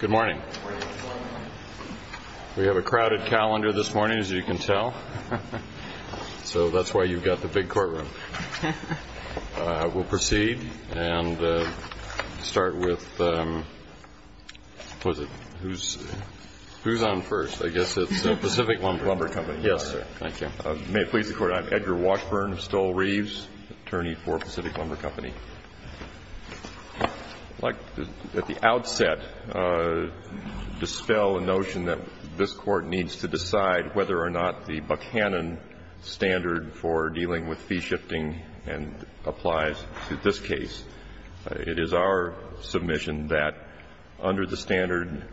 Good morning. We have a crowded calendar this morning, as you can tell, so that's why you've got the big courtroom. We'll proceed and start with, who's on first? I guess it's Pacific Lumber Company. Yes, sir. Thank you. May it please the At the outset, dispel a notion that this Court needs to decide whether or not the Buchanan standard for dealing with fee shifting applies to this case. It is our submission that under the standard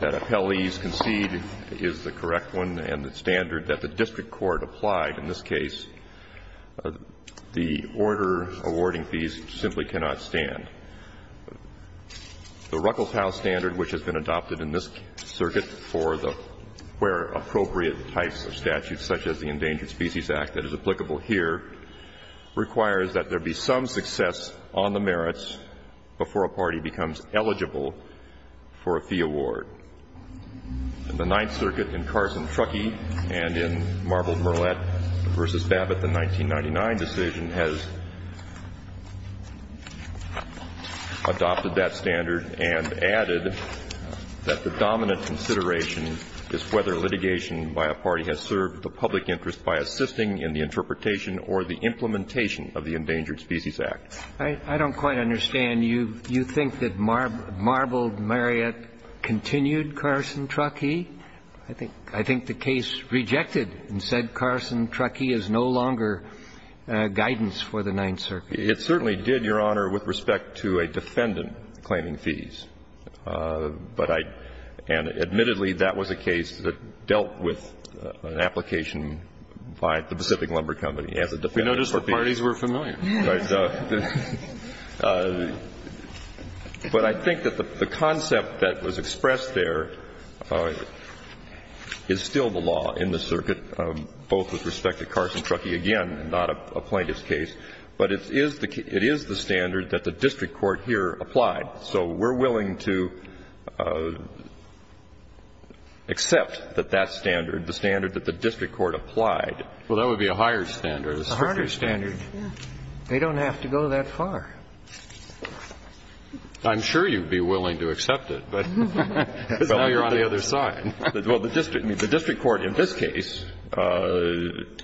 that appellees concede is the correct one and the standard that the district court applied in this case, the order awarding fees simply cannot stand. The Ruckelshaus standard, which has been adopted in this circuit for the where appropriate types of statutes such as the Endangered Species Act that is applicable here, requires that there be some success on the merits before a party becomes eligible for a fee award. In the Ninth Circuit, in Carson Truckee and in Marbled-Murlett v. Babbitt, the 1999 decision has adopted that standard and added that the dominant consideration is whether litigation by a party has served the public interest by assisting in the interpretation or the implementation of the Endangered Species Act. I don't quite understand. You think that Marbled-Murlett continued Carson Truckee? I think the case rejected and said Carson Truckee is no longer guidance for the Ninth Circuit. It certainly did, Your Honor, with respect to a defendant claiming fees. But I – and admittedly, that was a case that dealt with an application by the Pacific Lumber Company as a defendant for fees. We noticed the parties were familiar. But I think that the concept that was expressed there is still the law in the circuit, both with respect to Carson Truckee, again, not a plaintiff's case. But it is the standard that the district court here applied. So we're willing to accept that that standard, the standard that the district court applied. Well, that would be a higher standard. A harder standard. They don't have to go that far. I'm sure you'd be willing to accept it, but now you're on the other side. Well, the district court in this case, on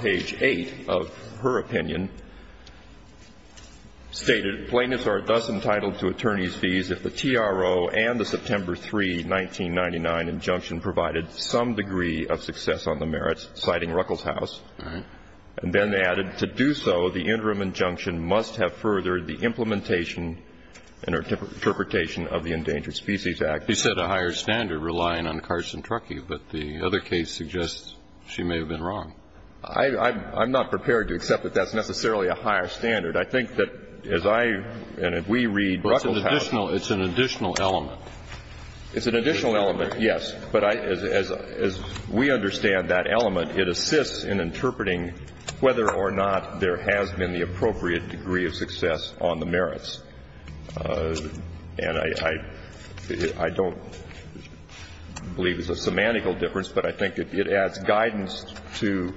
page 8 of her opinion, stated, Plaintiffs are thus entitled to attorney's fees if the TRO and the September 3, 1999 injunction provided some degree of success on the merits, citing Ruckelshaus and then added, to do so, the interim injunction must have furthered the implementation and interpretation of the Endangered Species Act. You said a higher standard, relying on Carson Truckee, but the other case suggests she may have been wrong. I'm not prepared to accept that that's necessarily a higher standard. I think that as I, and if we read Ruckelshaus' case It's an additional element. It's an additional element, yes. But as we understand that element, it assists in interpreting whether or not there has been the appropriate degree of success on the merits. And I don't believe it's a semantical difference, but I think it adds guidance to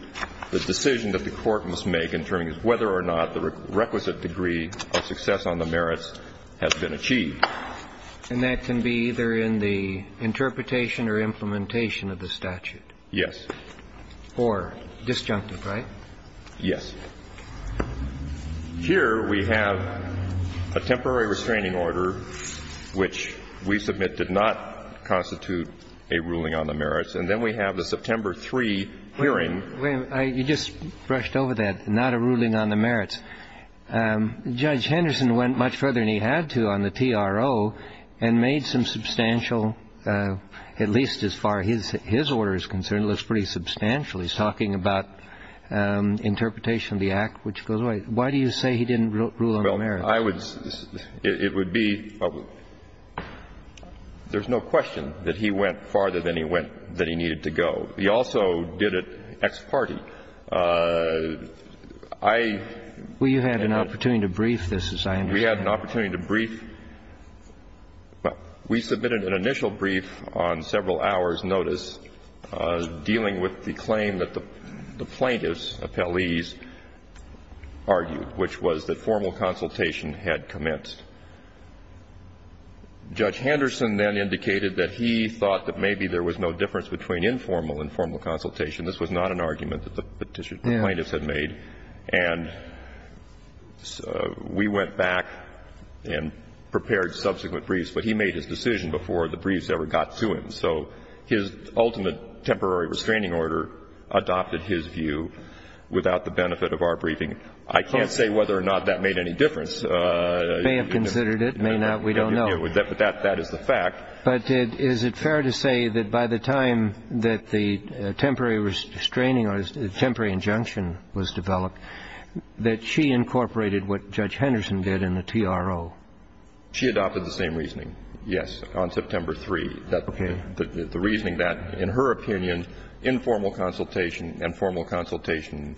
the decision that the Court must make in terms of whether or not the requisite degree of success on the merits has been achieved. And that can be either in the interpretation or implementation of the statute? Yes. Or disjunctive, right? Yes. Here we have a temporary restraining order, which we submit did not constitute a ruling on the merits, and then we have the September 3 hearing. Wait a minute. You just brushed over that, not a ruling on the merits. Judge Henderson went much further than he had to on the TRO and made some substantial, at least as far as his order is concerned, it looks pretty substantial. He's talking about interpretation of the Act, which goes away. Why do you say he didn't rule on the merits? Well, I would say it would be – there's no question that he went farther than he went – than he needed to go. He also did it ex parte. I – Well, you had an opportunity to brief this, as I understand it. We had an opportunity to brief – we submitted an initial brief on several hours' notice dealing with the claim that the plaintiffs, appellees, argued, which was that formal consultation had commenced. Judge Henderson then indicated that he thought that maybe there was no difference between informal and formal consultation. This was not an argument that the plaintiffs had made. And we went back and prepared subsequent briefs. But he made his decision before the briefs ever got to him. So his ultimate temporary restraining order adopted his view without the benefit of our briefing. I can't say whether or not that made any difference. May have considered it. May not. We don't know. But that is the fact. But is it fair to say that by the time that the temporary restraining – temporary injunction was developed, that she incorporated what Judge Henderson did in the TRO? She adopted the same reasoning, yes, on September 3. Okay. The reasoning that, in her opinion, informal consultation and formal consultation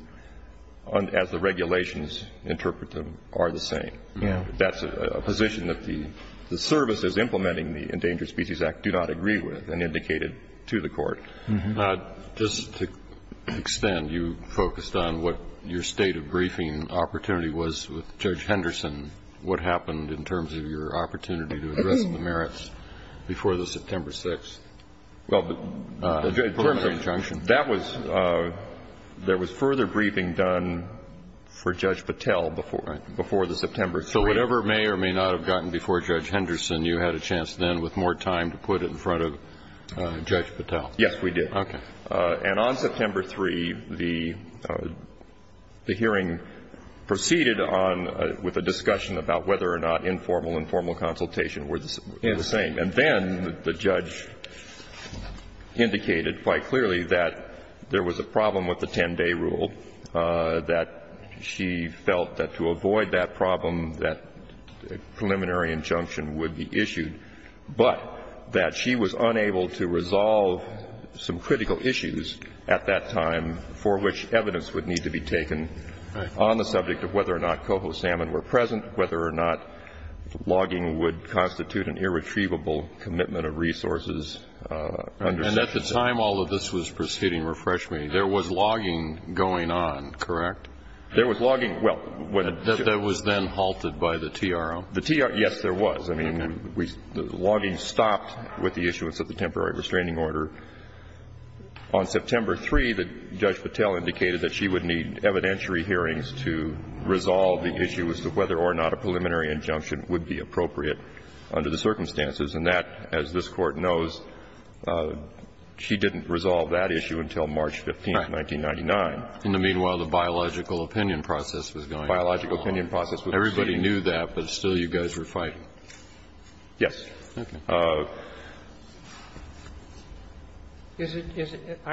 as the regulations interpret them are the same. Yeah. That's a position that the services implementing the Endangered Species Act do not agree with and indicated to the Court. Just to extend, you focused on what your state of briefing opportunity was with Judge Henderson, what happened in terms of your opportunity to address the merits before the September 6th. Well, but in terms of the injunction, that was – there was further briefing done for Judge Patel before the September 3. So whatever may or may not have gotten before Judge Henderson, you had a chance then with more time to put it in front of Judge Patel. Yes, we did. Okay. And on September 3, the hearing proceeded on – with a discussion about whether or not informal and formal consultation were the same. And then the judge indicated quite clearly that there was a problem with the 10-day rule, that she felt that to avoid that problem, that preliminary injunction would be issued, but that she was unable to resolve some critical issues at that time for which evidence would need to be taken on the subject of whether or not coho salmon were present, whether or not logging would constitute an irretrievable commitment of resources. And at the time all of this was proceeding, refresh me, there was logging going on, correct? There was logging – well, when – That was then halted by the TRO. The TRO – yes, there was. I mean, we – the logging stopped with the issuance of the temporary restraining order. On September 3, Judge Patel indicated that she would need evidentiary hearings to resolve the issues of whether or not a preliminary injunction would be appropriate under the circumstances. And that, as this Court knows, she didn't resolve that issue until March 15, 1999. In the meanwhile, the biological opinion process was going on. The biological opinion process was proceeding. Everybody knew that, but still you guys were fighting. Yes. I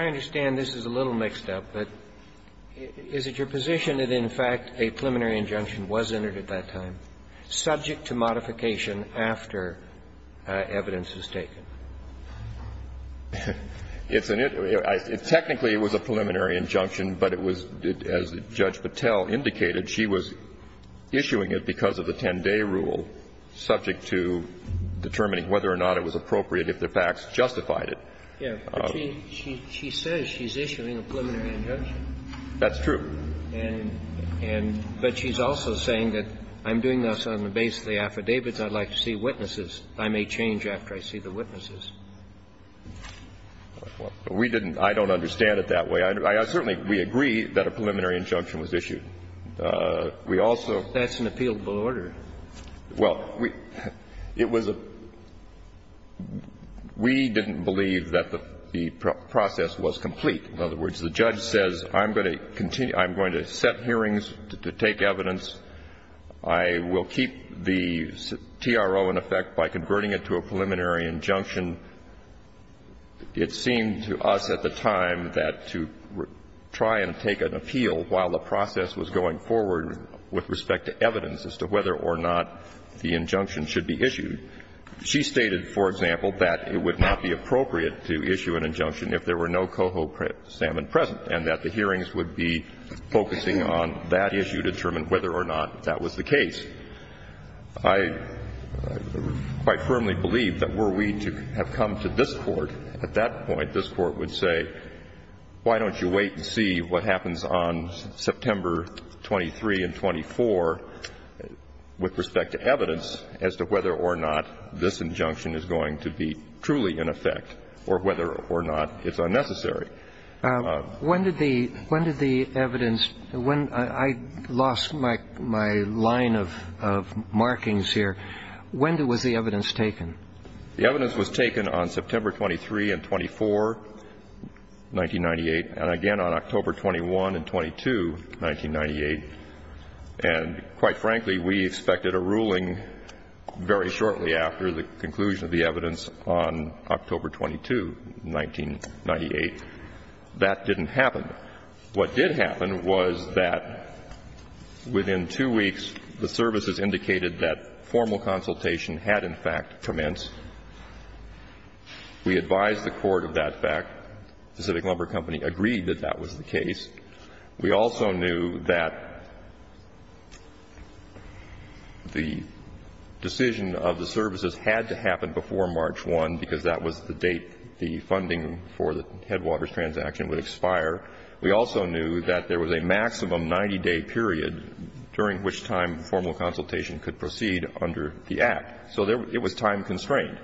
understand this is a little mixed up, but is it your position that in fact a preliminary injunction was entered at that time subject to modification after evidence is taken? It's an – technically it was a preliminary injunction, but it was, as Judge Patel indicated, she was issuing it because of the 10-day rule subject to determining whether or not it was appropriate if the facts justified it. Yes, but she says she's issuing a preliminary injunction. That's true. And – but she's also saying that I'm doing this on the basis of the affidavits. I'd like to see witnesses. I may change after I see the witnesses. We didn't – I don't understand it that way. I certainly – we agree that a preliminary injunction was issued. We also – That's an appealable order. Well, we – it was a – we didn't believe that the process was complete. In other words, the judge says I'm going to continue – I'm going to set hearings to take evidence. I will keep the TRO in effect by converting it to a preliminary injunction. It seemed to us at the time that to try and take an appeal while the process was going forward with respect to evidence as to whether or not the injunction should be issued, she stated, for example, that it would not be appropriate to issue an injunction if there were no coho salmon present and that the hearings would be focusing on that issue to determine whether or not that was the case. I quite firmly believe that were we to have come to this Court at that point, this Court would say, why don't you wait and see what happens on September 23 and 24 with respect to evidence as to whether or not this injunction is going to be truly in effect or whether or not it's unnecessary. When did the – when did the evidence – I lost my line of markings here. When was the evidence taken? The evidence was taken on September 23 and 24, 1998, and again on October 21 and 22, 1998. And quite frankly, we expected a ruling very shortly after the conclusion of the evidence on October 22, 1998. That didn't happen. What did happen was that within two weeks, the services indicated that formal consultation had in fact commenced. We advised the Court of that fact. Pacific Lumber Company agreed that that was the case. We also knew that the decision of the services had to happen before March 1, and that was the date the funding for the Headwaters transaction would expire. We also knew that there was a maximum 90-day period during which time formal consultation could proceed under the Act. So there – it was time-constrained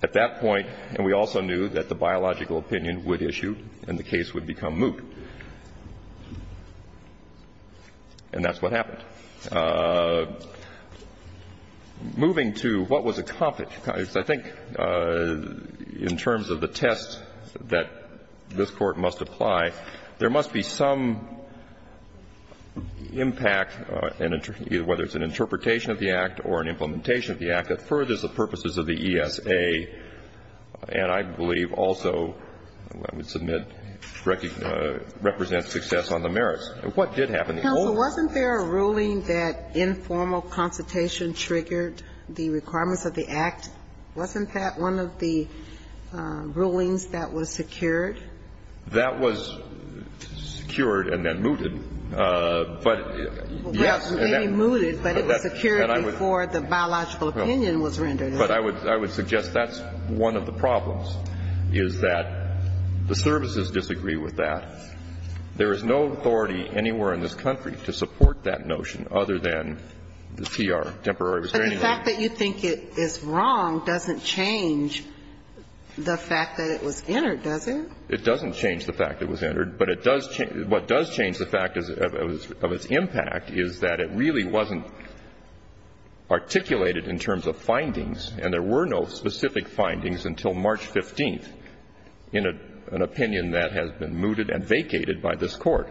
at that point. And we also knew that the biological opinion would issue and the case would become moot. And that's what happened. Moving to what was accomplished, I think in terms of the test that this Court must apply, there must be some impact, whether it's an interpretation of the Act or an implementation of the Act, that furthers the purposes of the ESA and I believe also, I would submit, represents success on the merits. What did happen? Counsel, wasn't there a ruling that informal consultation triggered the requirements of the Act? Wasn't that one of the rulings that was secured? That was secured and then mooted. But yes, and that – Well, maybe mooted, but it was secured before the biological opinion was rendered. But I would suggest that's one of the problems, is that the services disagree with that. There is no authority anywhere in this country to support that notion other than the TR, temporary restraining order. But the fact that you think it is wrong doesn't change the fact that it was entered, does it? It doesn't change the fact it was entered. But it does – what does change the fact of its impact is that it really wasn't articulated in terms of findings, and there were no specific findings until March 15th in an opinion that has been mooted and vacated by this Court.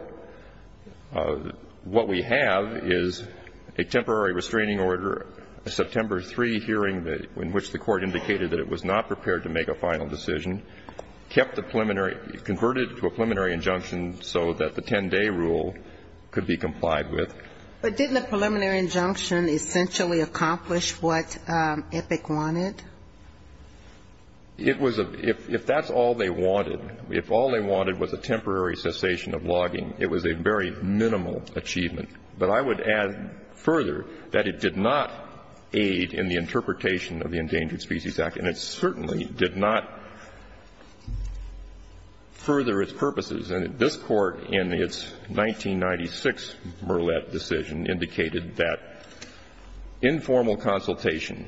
What we have is a temporary restraining order, a September 3 hearing in which the Court indicated that it was not prepared to make a final decision, kept the preliminary – converted to a preliminary injunction so that the 10-day rule could be complied with. But didn't the preliminary injunction essentially accomplish what Epic wanted? It was a – if that's all they wanted, if all they wanted was a temporary cessation of logging, it was a very minimal achievement. But I would add further that it did not aid in the interpretation of the Endangered Species Act, and it certainly did not further its purposes. And this Court, in its 1996 Murlett decision, indicated that informal consultation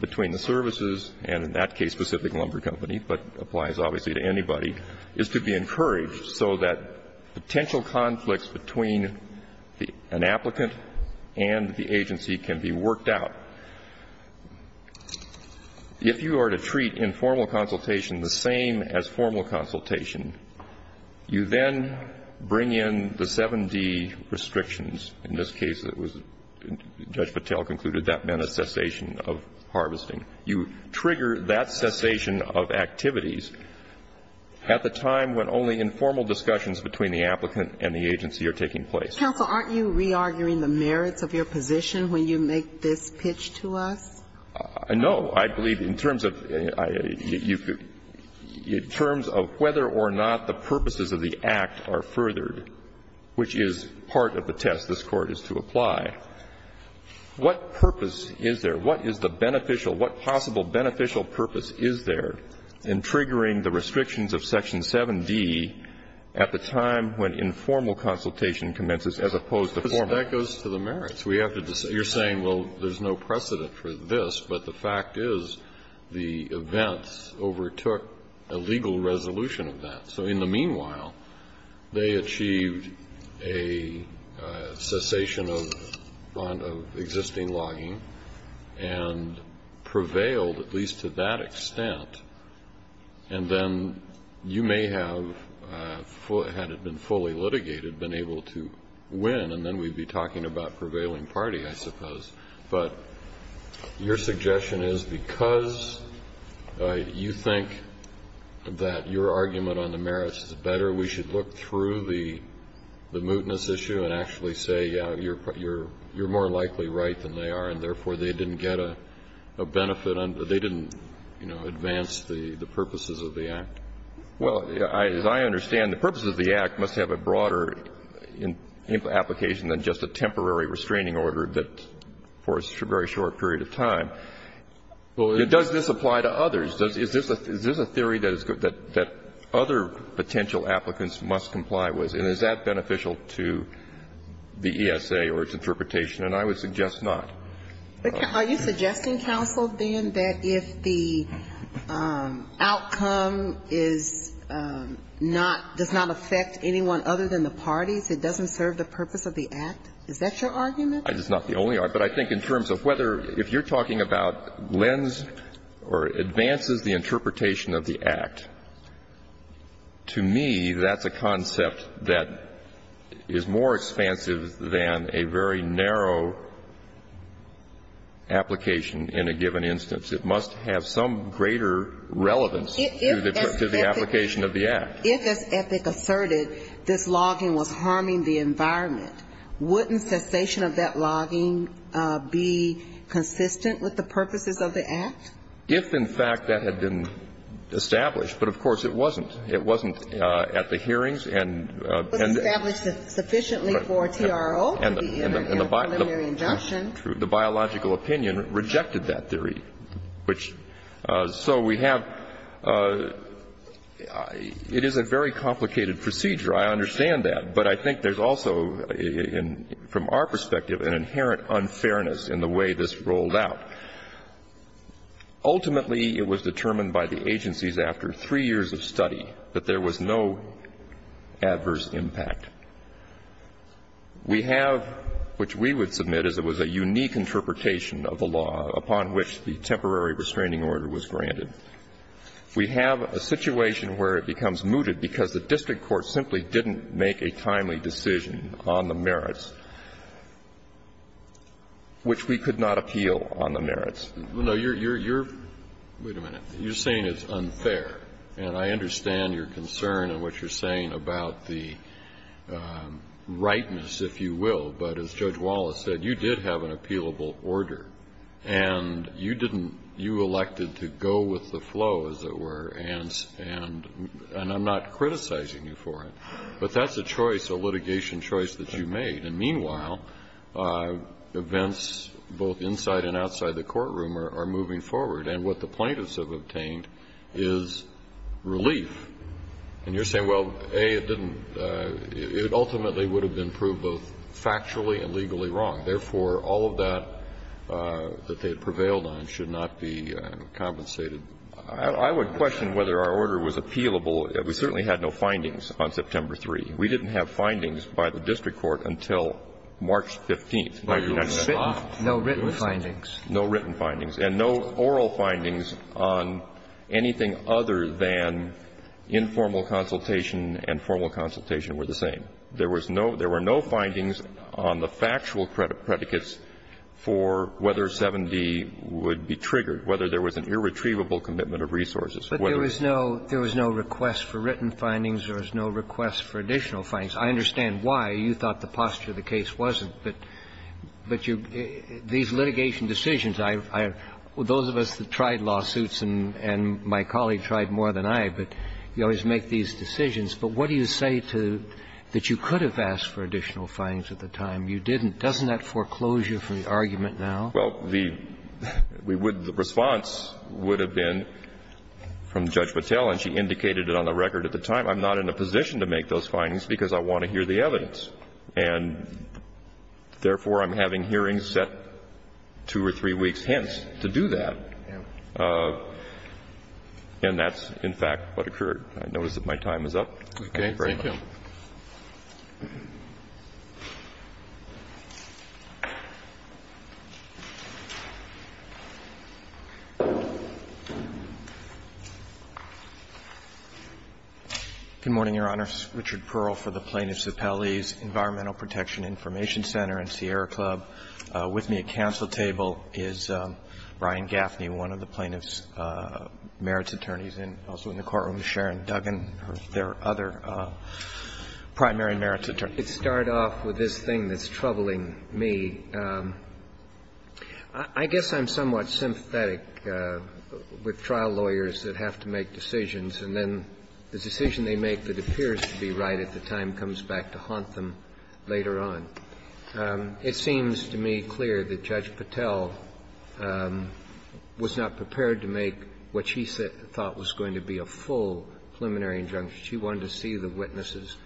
between the services and, in that case, Pacific Lumber Company, but applies obviously to anybody, is to be encouraged so that potential conflicts between the – an applicant and the agency can be worked out. If you are to treat informal consultation the same as formal consultation, you then bring in the 7D restrictions. In this case, it was – Judge Patel concluded that meant a cessation of harvesting. You trigger that cessation of activities at the time when only informal discussions between the applicant and the agency are taking place. Counsel, aren't you re-arguing the merits of your position when you make this pitch to us? No. I believe in terms of – in terms of whether or not the purposes of the Act are furthered, which is part of the test this Court is to apply, what purpose is there? What is the beneficial – what possible beneficial purpose is there in triggering the restrictions of Section 7D at the time when informal consultation commences as opposed to formal? That goes to the merits. We have to – you're saying, well, there's no precedent for this, but the fact is the events overtook a legal resolution of that. So in the meanwhile, they achieved a cessation of existing logging and prevailed, at least to that extent, and then you may have, had it been fully litigated, been able to win, and then we'd be talking about prevailing party, I suppose. But your suggestion is because you think that your argument on the merits is better, we should look through the mootness issue and actually say, yeah, you're more likely right than they are, and therefore, they didn't get a benefit on – they didn't, you know, advance the purposes of the Act. Well, as I understand, the purposes of the Act must have a broader application than just a temporary restraining order that, for a very short period of time. Does this apply to others? Is this a theory that other potential applicants must comply with? And is that beneficial to the ESA or its interpretation? And I would suggest not. Are you suggesting, counsel, then, that if the outcome is not – does not affect anyone other than the parties, it doesn't serve the purpose of the Act? Is that your argument? It's not the only argument. But I think in terms of whether – if you're talking about lends or advances the interpretation of the Act, to me, that's a concept that is more expansive than a very narrow application in a given instance. It must have some greater relevance to the application of the Act. If, as Epic asserted, this logging was harming the environment, wouldn't cessation of that logging be consistent with the purposes of the Act? If, in fact, that had been established. But, of course, it wasn't. It wasn't at the hearings and – It wasn't established sufficiently for TRO to be in a preliminary injunction. The biological opinion rejected that theory. Which – so we have – it is a very complicated procedure. I understand that. But I think there's also, from our perspective, an inherent unfairness in the way this rolled out. Ultimately, it was determined by the agencies after three years of study that there was no adverse impact. We have, which we would submit as it was a unique interpretation of the law upon which the temporary restraining order was granted, we have a situation where it becomes mooted because the district court simply didn't make a timely decision on the merits, which we could not appeal on the merits. No, you're – you're – wait a minute. You're saying it's unfair, and I understand your concern and what you're saying about the rightness, if you will. But as Judge Wallace said, you did have an appealable order, and you didn't – you elected to go with the flow, as it were, and – and I'm not criticizing you for it. But that's a choice, a litigation choice that you made. And meanwhile, events both inside and outside the courtroom are moving forward. And what the plaintiffs have obtained is relief. And you're saying, well, A, it didn't – it ultimately would have been proved both factually and legally wrong. Therefore, all of that that they had prevailed on should not be compensated. I would question whether our order was appealable. We certainly had no findings on September 3. We didn't have findings by the district court until March 15th. No written findings. No written findings. And no oral findings on anything other than informal consultation and formal consultation were the same. There was no – there were no findings on the factual predicates for whether 7d would be triggered, whether there was an irretrievable commitment of resources, whether there was no request for written findings or no request for additional findings. I understand why you thought the posture of the case wasn't. But you – these litigation decisions, I – those of us that tried lawsuits and my colleague tried more than I, but you always make these decisions. But what do you say to – that you could have asked for additional findings at the time? You didn't. Doesn't that foreclose you from the argument now? Well, the – we would – the response would have been from Judge Patel, and she indicated it on the record at the time, I'm not in a position to make those findings, because I want to hear the evidence. And therefore, I'm having hearings set two or three weeks hence to do that. And that's, in fact, what occurred. I notice that my time is up. Thank you very much. Thank you. Good morning, Your Honors. Richard Pearl for the Plaintiffs' Appellees, Environmental Protection Information Center, and Sierra Club. With me at counsel table is Brian Gaffney, one of the plaintiffs' merits attorneys. And also in the courtroom is Sharon Duggan, their other primary merits attorney. To start off with this thing that's troubling me, I guess I'm somewhat sympathetic with trial lawyers that have to make decisions, and then the decision they make that appears to be right at the time comes back to haunt them later on. It seems to me clear that Judge Patel was not prepared to make what she said – thought was going to be a full preliminary injunction. She wanted to see the witnesses,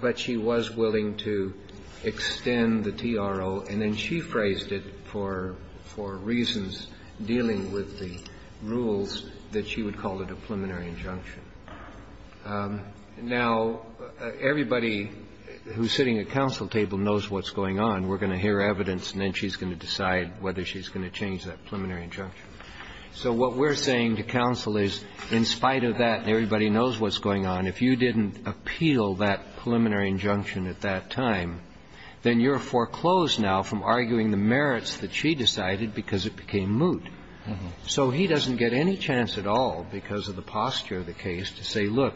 but she was willing to extend the TRO, and then she phrased it for reasons dealing with the rules that she would call it a preliminary injunction. Now, everybody who's sitting at counsel table knows what's going on. We're going to hear evidence, and then she's going to decide whether she's going to change that preliminary injunction. So what we're saying to counsel is, in spite of that, and everybody knows what's going on, if you didn't appeal that preliminary injunction at that time, then you're foreclosed now from arguing the merits that she decided because it became moot. So he doesn't get any chance at all because of the posture of the case to say, look,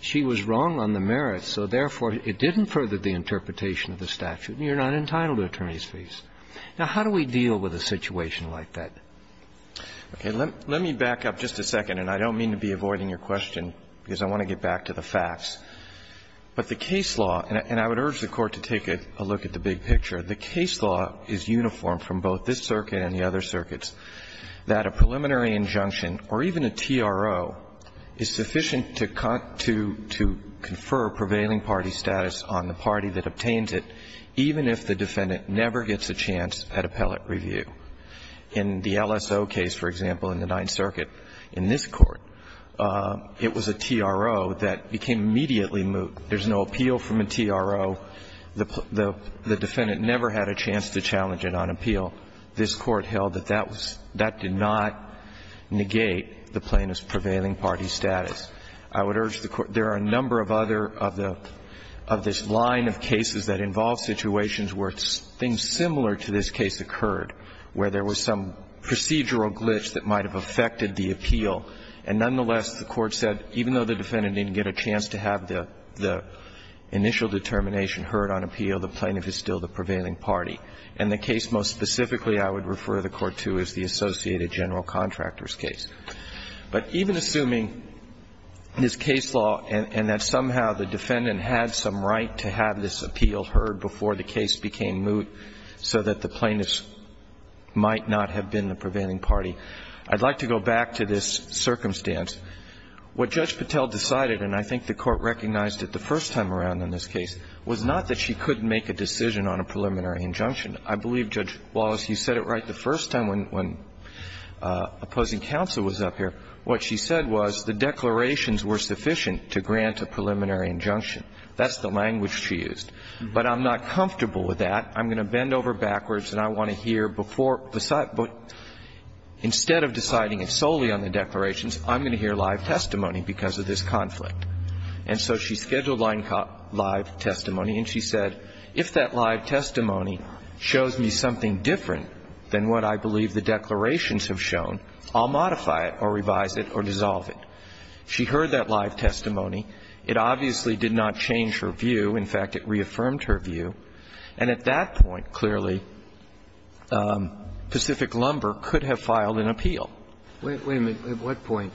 she was wrong on the merits, so therefore it didn't further the interpretation of the statute, and you're not entitled to attorney's fees. Now, how do we deal with a situation like that? Okay. Let me back up just a second, and I don't mean to be avoiding your question because I want to get back to the facts. But the case law, and I would urge the Court to take a look at the big picture, the case law is uniform from both this circuit and the other circuits that a preliminary injunction or even a TRO is sufficient to confer prevailing party status on the party that obtains it, even if the defendant never gets a chance at appellate review. In the LSO case, for example, in the Ninth Circuit, in this Court, it was a TRO that became immediately moot. There's no appeal from a TRO. The defendant never had a chance to challenge it on appeal. This Court held that that was – that did not negate the plaintiff's prevailing party status. I would urge the Court – there are a number of other of the – of this line of cases that involve situations where things similar to this case occurred, where there was some procedural glitch that might have affected the appeal. And nonetheless, the Court said even though the defendant didn't get a chance to have the initial determination heard on appeal, the plaintiff is still the prevailing party. And the case most specifically I would refer the Court to is the Associated General Contractors case. But even assuming this case law and that somehow the defendant had some right to have this appeal heard before the case became moot so that the plaintiff might not have been the prevailing party, I'd like to go back to this circumstance. What Judge Patel decided, and I think the Court recognized it the first time around in this case, was not that she couldn't make a decision on a preliminary injunction. I believe, Judge Wallace, you said it right the first time when opposing counsel was up here. What she said was the declarations were sufficient to grant a preliminary injunction. That's the language she used. But I'm not comfortable with that. I'm going to bend over backwards and I want to hear before the site but instead of deciding it solely on the declarations, I'm going to hear live testimony because of this conflict. And so she scheduled live testimony and she said, if that live testimony shows me something different than what I believe the declarations have shown, I'll modify it or revise it or dissolve it. She heard that live testimony. It obviously did not change her view. In fact, it reaffirmed her view. And at that point, clearly, Pacific Lumber could have filed an appeal. Wait a minute. At what point?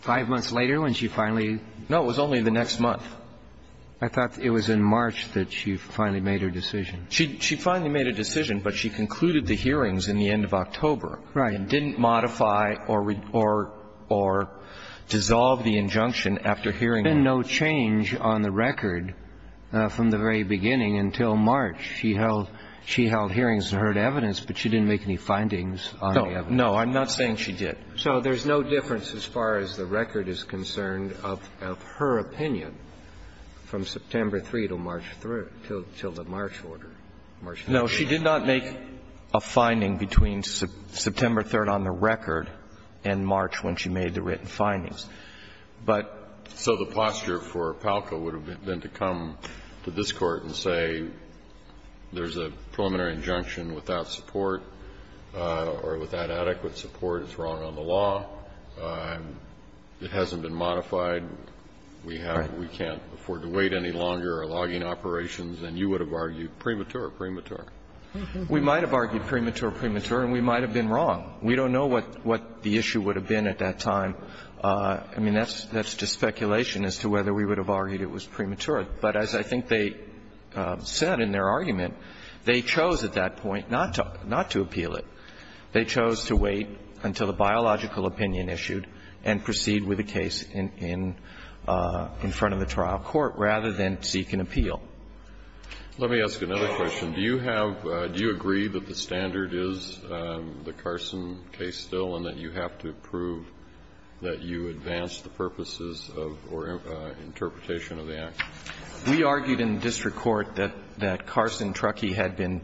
Five months later when she finally? No, it was only the next month. I thought it was in March that she finally made her decision. She finally made a decision, but she concluded the hearings in the end of October. Right. And didn't modify or dissolve the injunction after hearing it. But there had been no change on the record from the very beginning until March. She held hearings and heard evidence, but she didn't make any findings on the evidence. No, I'm not saying she did. So there's no difference as far as the record is concerned of her opinion from September 3rd to March 3rd, till the March order. No, she did not make a finding between September 3rd on the record and March when she made the written findings. So the posture for Palco would have been to come to this Court and say, there's a preliminary injunction without support or without adequate support, it's wrong on the law, it hasn't been modified, we can't afford to wait any longer, our logging operations, and you would have argued premature, premature. We might have argued premature, premature, and we might have been wrong. We don't know what the issue would have been at that time. So, I mean, that's just speculation as to whether we would have argued it was premature. But as I think they said in their argument, they chose at that point not to appeal it. They chose to wait until the biological opinion issued and proceed with the case in front of the trial court, rather than seek an appeal. Let me ask another question. Do you have do you agree that the standard is the Carson case still and that you have to prove that you advanced the purposes of or interpretation of the act? We argued in the district court that Carson-Truckee had been,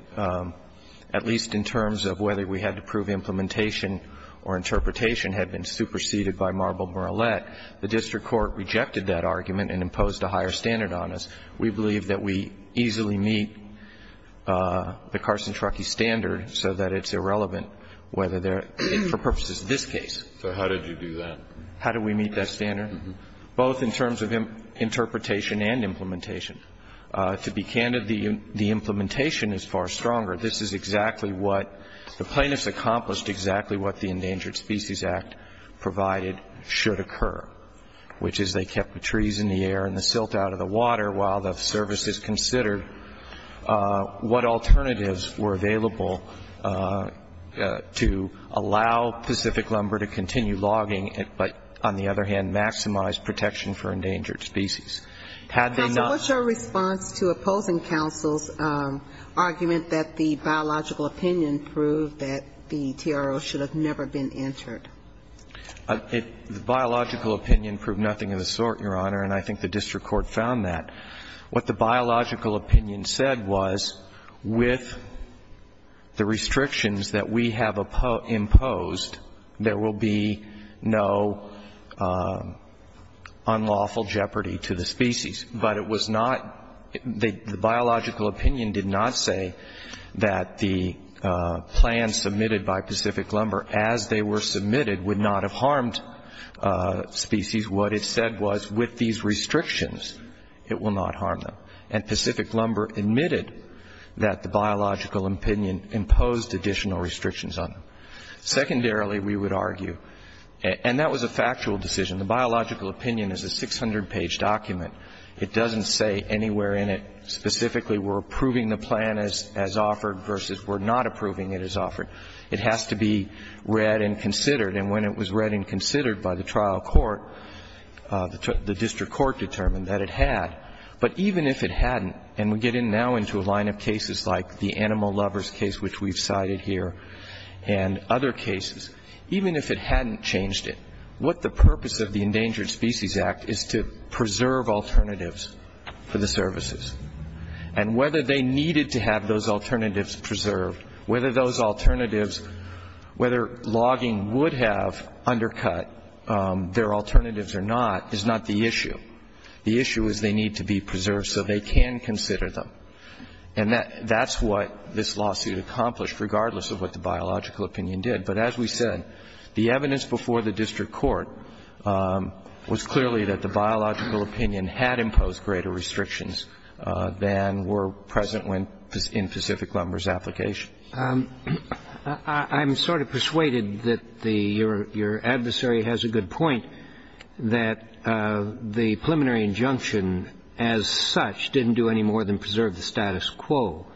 at least in terms of whether we had to prove implementation or interpretation, had been superseded by Marble-Marlette. The district court rejected that argument and imposed a higher standard on us. We believe that we easily meet the Carson-Truckee standard so that it's irrelevant whether there are purposes in this case. So how did you do that? How do we meet that standard? Both in terms of interpretation and implementation. To be candid, the implementation is far stronger. This is exactly what the plaintiffs accomplished, exactly what the Endangered Species Act provided should occur, which is they kept the trees in the air and the silt out of the water while the services considered what alternatives were available to allow Pacific lumber to continue logging but, on the other hand, maximize protection for endangered species. Had they not ---- Counsel, what's your response to opposing counsel's argument that the biological opinion proved that the TRO should have never been entered? The biological opinion proved nothing of the sort, Your Honor, and I think the district court found that. What the biological opinion said was with the restrictions that we have imposed, there will be no unlawful jeopardy to the species. But it was not ---- the biological opinion did not say that the plan submitted by Pacific lumber as they were submitted would not have harmed species. What it said was with these restrictions, it will not harm them. And Pacific lumber admitted that the biological opinion imposed additional restrictions on them. Secondarily, we would argue, and that was a factual decision, the biological opinion is a 600-page document. It doesn't say anywhere in it specifically we're approving the plan as offered versus we're not approving it as offered. It has to be read and considered. And when it was read and considered by the trial court, the district court determined that it had. But even if it hadn't, and we get in now into a line of cases like the animal lovers case which we've cited here and other cases, even if it hadn't changed it, what the purpose of the Endangered Species Act is to preserve alternatives for the services. And whether they needed to have those alternatives preserved, whether those alternatives whether logging would have undercut their alternatives or not is not the issue. The issue is they need to be preserved so they can consider them. And that's what this lawsuit accomplished regardless of what the biological opinion did. But as we said, the evidence before the district court was clearly that the biological opinion had imposed greater restrictions than were present in Pacific lumber's application. I'm sort of persuaded that your adversary has a good point that the preliminary injunction as such didn't do any more than preserve the status quo.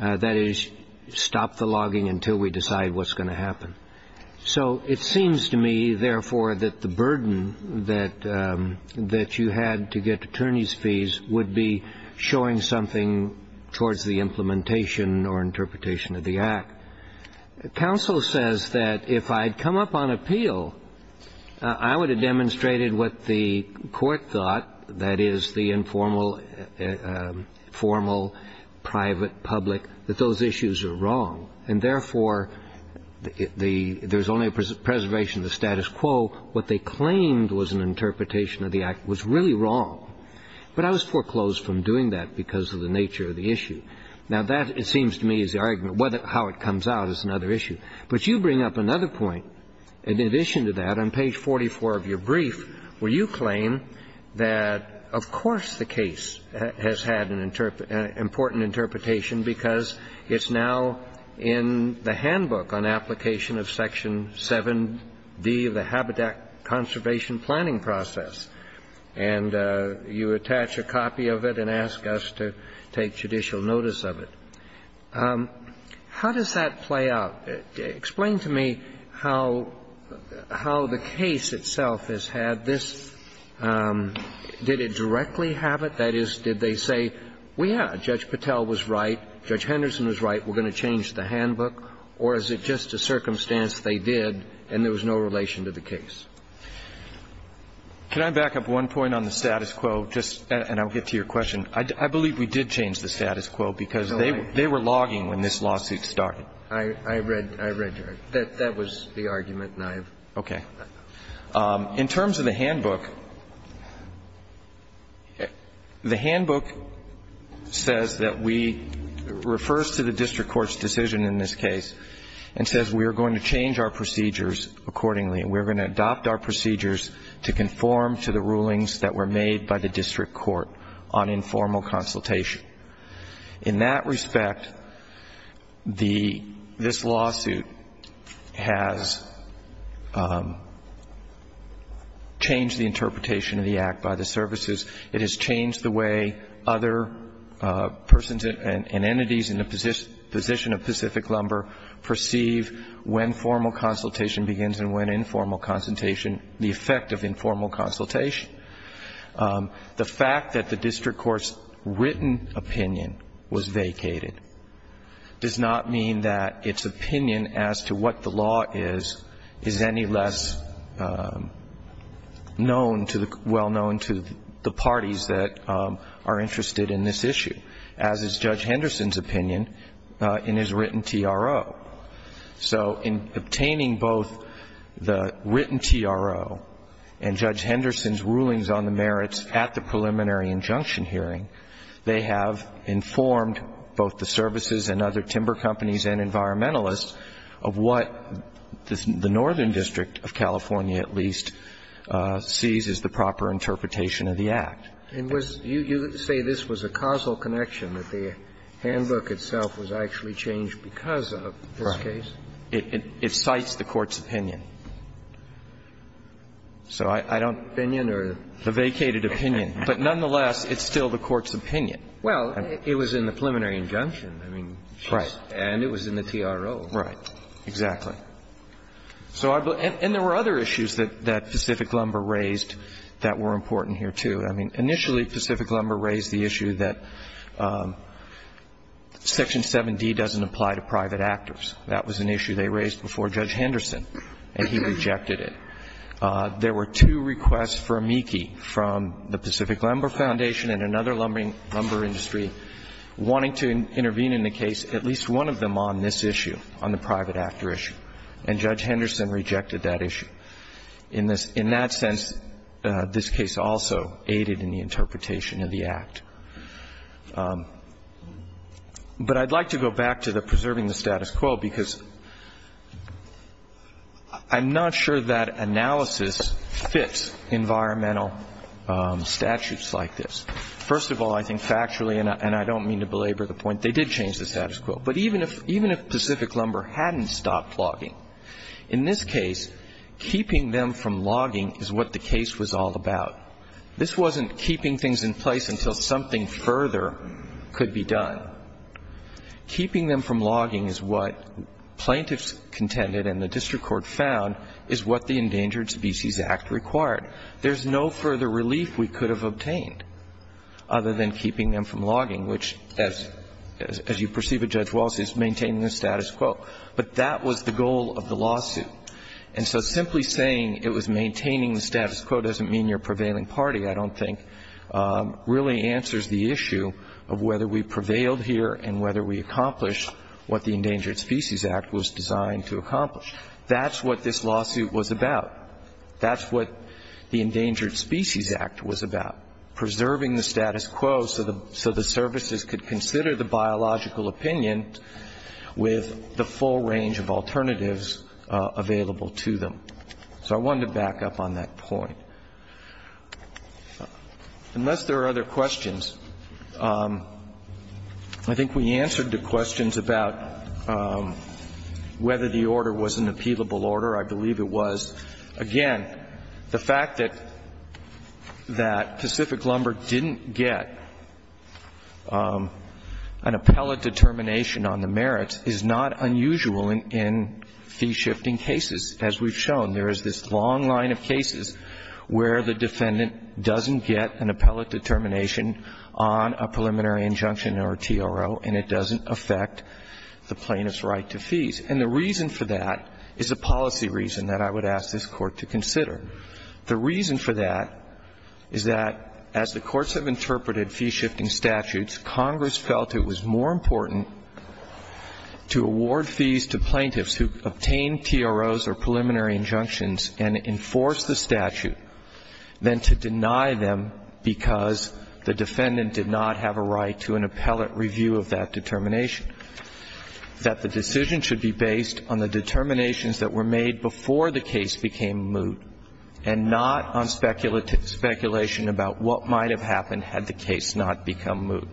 That is, stop the logging until we decide what's going to happen. So it seems to me, therefore, that the burden that you had to get attorney's fees would be showing something towards the implementation or interpretation of the act. Counsel says that if I'd come up on appeal, I would have demonstrated what the court thought, that is, the informal, private, public, that those issues are wrong. And therefore, there's only preservation of the status quo. What they claimed was an interpretation of the act was really wrong. But I was foreclosed from doing that because of the nature of the issue. Now that, it seems to me, is the argument, how it comes out is another issue. But you bring up another point. In addition to that, on page 44 of your brief, where you claim that, of course, the case has had an important interpretation because it's now in the handbook on application of section 7D of the Habitat Conservation Planning Process. And you attach a copy of it and ask us to take judicial notice of it. How does that play out? Explain to me how the case itself has had this, did it directly have it? That is, did they say, we had, Judge Patel was right, Judge Henderson was right. We're going to change the handbook. Or is it just a circumstance they did and there was no relation to the case? Can I back up one point on the status quo, just, and I'll get to your question. I believe we did change the status quo because they were logging when this lawsuit started. I read, I read your, that was the argument and I have. Okay. In terms of the handbook, the handbook says that we, refers to the district court's decision in this case, and says we are going to change our procedures accordingly. We're going to adopt our procedures to conform to the rulings that were made by the district court on informal consultation. In that respect, the, this lawsuit has changed the interpretation of the act by the services. It has changed the way other persons and entities in the position of Pacific Lumber perceive when formal consultation begins and when informal consultation, the effect of informal consultation. The fact that the district court's written opinion was vacated does not mean that its opinion as to what the law is, is any less known to the, well known to the parties that are interested in this issue. As is Judge Henderson's opinion in his written TRO. So in obtaining both the written TRO and Judge Henderson's rulings on the merits at the preliminary injunction hearing, they have informed both the services and other timber companies and environmentalists of what the northern district of California at least sees as the proper interpretation of the act. And was, you say this was a causal connection, that the handbook itself was actually changed because of this case? Right. It, it cites the court's opinion. So I don't. Opinion or? The vacated opinion. But nonetheless, it's still the court's opinion. Well, it was in the preliminary injunction. I mean, she's. Right. And it was in the TRO. Right. Exactly. So I, and there were other issues that Pacific Lumber raised that were important here, too. I mean, initially Pacific Lumber raised the issue that Section 7D doesn't apply to private actors. That was an issue they raised before Judge Henderson, and he rejected it. There were two requests for amici from the Pacific Lumber Foundation and another lumber industry wanting to intervene in the case, at least one of them on this issue, on the private actor issue. And Judge Henderson rejected that issue. In this, in that sense, this case also aided in the interpretation of the act. But I'd like to go back to the preserving the status quo, because I'm not sure that analysis fits environmental statutes like this. First of all, I think factually, and I don't mean to belabor the point, they did change the status quo. But even if Pacific Lumber hadn't stopped logging, in this case, keeping them from logging is what the case was all about. This wasn't keeping things in place until something further could be done. Keeping them from logging is what plaintiffs contended and the district court found is what the Endangered Species Act required. There's no further relief we could have obtained other than keeping them from logging, which, as you perceive it, Judge Wallace, is maintaining the status quo. But that was the goal of the lawsuit. And so simply saying it was maintaining the status quo doesn't mean you're prevailing party, I don't think, really answers the issue of whether we prevailed here and whether we accomplished what the Endangered Species Act was designed to accomplish. That's what this lawsuit was about. That's what the Endangered Species Act was about, preserving the status quo so the services could consider the biological opinion with the full range of alternatives available to them. So I wanted to back up on that point. Unless there are other questions, I think we answered the questions about whether the order was an appealable order. I believe it was. Again, the fact that Pacific Lumber didn't get an appellate determination on the merits is not unusual in fee-shifting cases, as we've shown. There is this long line of cases where the defendant doesn't get an appellate determination on a preliminary injunction or TRO, and it doesn't affect the plaintiff's right to fees. And the reason for that is a policy reason that I would ask this Court to consider. The reason for that is that, as the courts have interpreted fee-shifting statutes, Congress felt it was more important to award fees to plaintiffs who obtained TROs or preliminary injunctions and enforce the statute than to deny them because the defendant did not have a right to an appellate review of that determination. That the decision should be based on the determinations that were made before the case became moot and not on speculation about what might have happened had the case not become moot.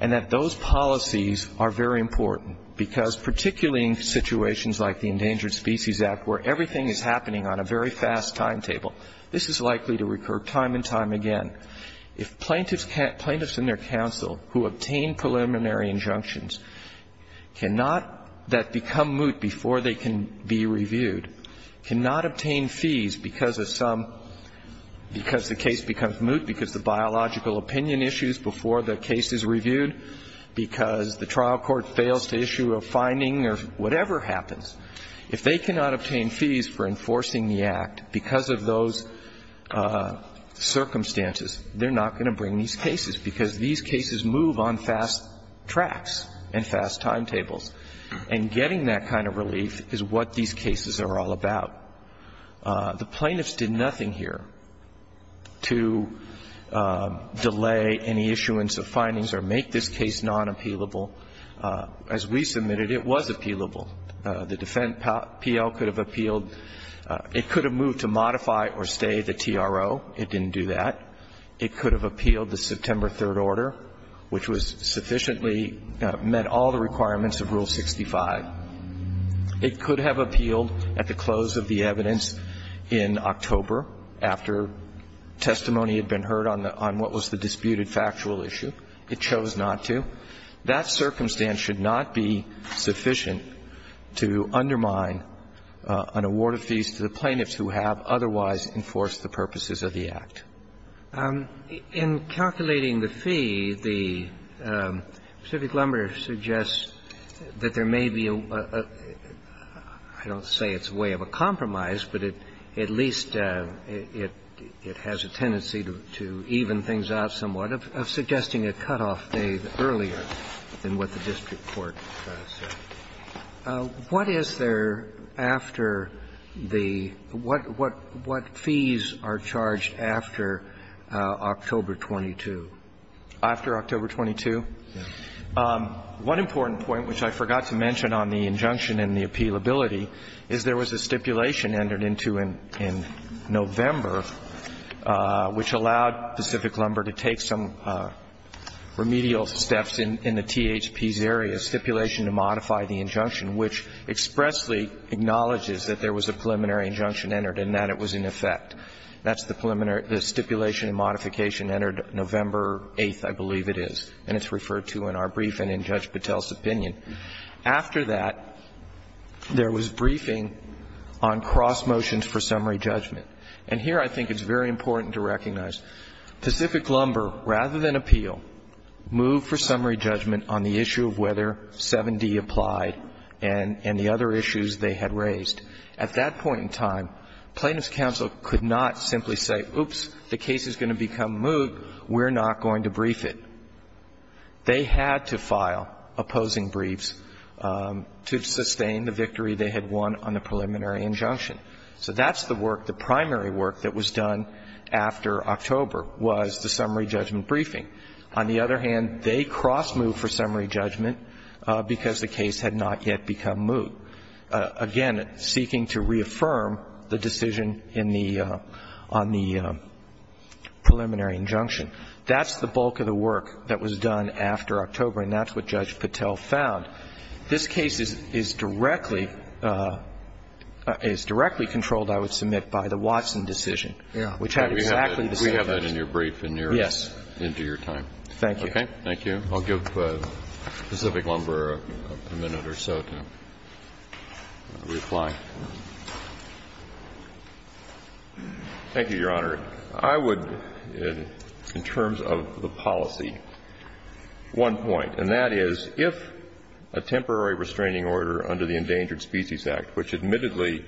And that those policies are very important, because particularly in situations like the Endangered Species Act, where everything is happening on a very fast timetable, this is likely to recur time and time again. If plaintiffs can't – plaintiffs and their counsel who obtain preliminary injunctions cannot – that become moot before they can be reviewed, cannot obtain fees because of some – because the case becomes moot, because the biological opinion issues before the case is reviewed, because the trial court fails to issue a finding or whatever happens, if they cannot obtain fees for enforcing the Act because of those circumstances, they're not going to bring these cases, because these cases move on fast tracks and fast timetables. And getting that kind of relief is what these cases are all about. The plaintiffs did nothing here to delay any issuance of findings or make this case non-appealable. As we submitted, it was appealable. The defendant, P.L., could have appealed. It could have moved to modify or stay the TRO. It didn't do that. It could have appealed the September 3rd order, which was – sufficiently met all the requirements of Rule 65. It could have appealed at the close of the evidence in October, after testimony had been heard on the – on what was the disputed factual issue. It chose not to. That circumstance should not be sufficient to undermine an award of fees to the plaintiffs who have otherwise enforced the purposes of the Act. In calculating the fee, the Pacific Lumber suggests that there may be a – I don't say it's a way of a compromise, but it at least – it has a tendency to even things out somewhat of suggesting a cutoff date earlier than what the district court said. What is there after the – what fees are charged after October 22? After October 22? One important point, which I forgot to mention on the injunction and the appealability, is there was a stipulation entered into in November, which allowed Pacific Lumber to take some remedial steps in the THP's area, stipulation to modify the injunction, which expressly acknowledges that there was a preliminary injunction entered and that it was in effect. That's the stipulation and modification entered November 8th, I believe it is, and it's referred to in our brief and in Judge Patel's opinion. After that, there was briefing on cross motions for summary judgment. And here I think it's very important to recognize Pacific Lumber, rather than appeal, moved for summary judgment on the issue of whether 7D applied and the other issues they had raised. At that point in time, Plaintiffs' counsel could not simply say, oops, the case is going to become moved, we're not going to brief it. They had to file opposing briefs to sustain the victory they had won on the preliminary injunction. So that's the work, the primary work that was done after October was the summary judgment briefing. On the other hand, they cross moved for summary judgment because the case had not yet become moved, again, seeking to reaffirm the decision in the — on the preliminary injunction. That's the bulk of the work that was done after October, and that's what Judge Patel found. This case is directly — is directly controlled, I would submit, by the Watson decision, which had exactly the same effect. We have that in your brief and you're into your time. Yes. Thank you. Okay. Thank you. I'll give Pacific Lumber a minute or so to reply. Thank you, Your Honor. I would, in terms of the policy, one point, and that is if a temporary restraining order under the Endangered Species Act, which admittedly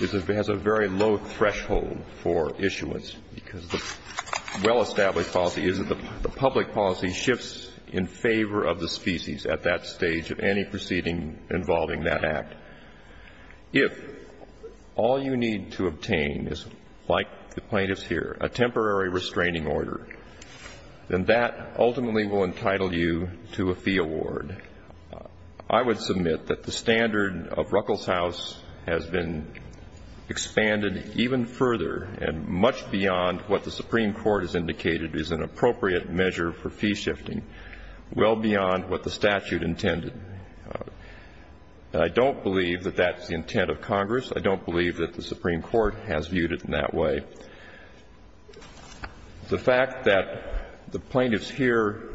is a — has a very low threshold for issuance because the well-established policy is that the public policy shifts in favor of the species at that stage of any proceeding involving that act. If all you need to obtain is, like the plaintiffs here, a temporary restraining order, then that ultimately will entitle you to a fee award. I would submit that the standard of Ruckelshaus has been expanded even further and much beyond what the Supreme Court has indicated is an appropriate measure for fee shifting, well beyond what the statute intended. I don't believe that that's the intent of Congress. I don't believe that the Supreme Court has viewed it in that way. The fact that the plaintiffs here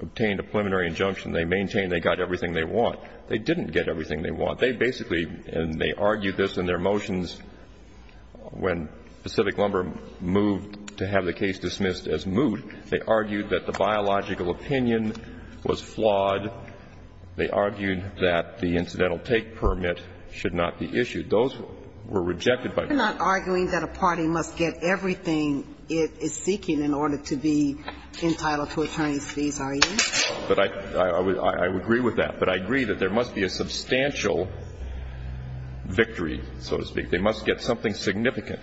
obtained a preliminary injunction, they maintain they got everything they want. They didn't get everything they want. They basically — and they argued this in their motions when Pacific Lumber moved to have the case dismissed as moot. They argued that the biological opinion was flawed. They argued that the incidental take permit should not be issued. Those were rejected by Congress. You're not arguing that a party must get everything it is seeking in order to be entitled to attorney's fees, are you? But I — I would agree with that. But I agree that there must be a substantial victory, so to speak. They must get something significant.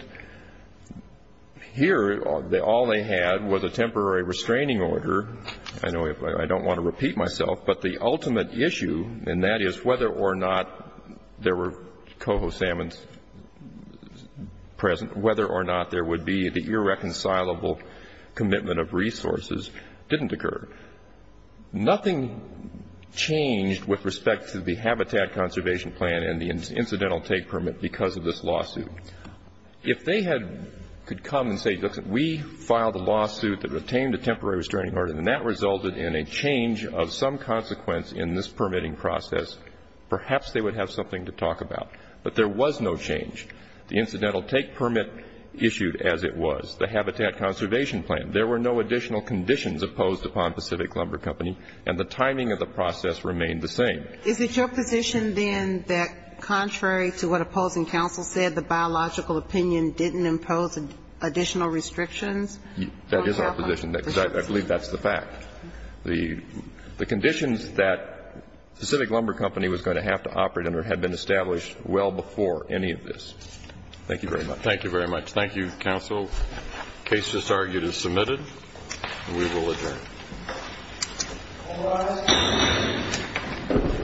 Here, all they had was a temporary restraining order. I know I don't want to repeat myself, but the ultimate issue, and that is whether or not there were coho salmons present, whether or not there would be the irreconcilable commitment of resources, didn't occur. Nothing changed with respect to the Habitat Conservation Plan and the incidental take permit because of this lawsuit. If they had — could come and say, look, we filed a lawsuit that retained a temporary restraining order, and that resulted in a change of some consequence in this permitting process, perhaps they would have something to talk about. But there was no change. The incidental take permit issued as it was. The Habitat Conservation Plan, there were no additional conditions opposed upon Pacific Lumber Company, and the timing of the process remained the same. Is it your position, then, that contrary to what opposing counsel said, the biological opinion didn't impose additional restrictions? That is our position. I believe that's the fact. The conditions that Pacific Lumber Company was going to have to operate under had been established well before any of this. Thank you very much. Thank you very much. Thank you, counsel. The case just argued is submitted, and we will adjourn. All rise.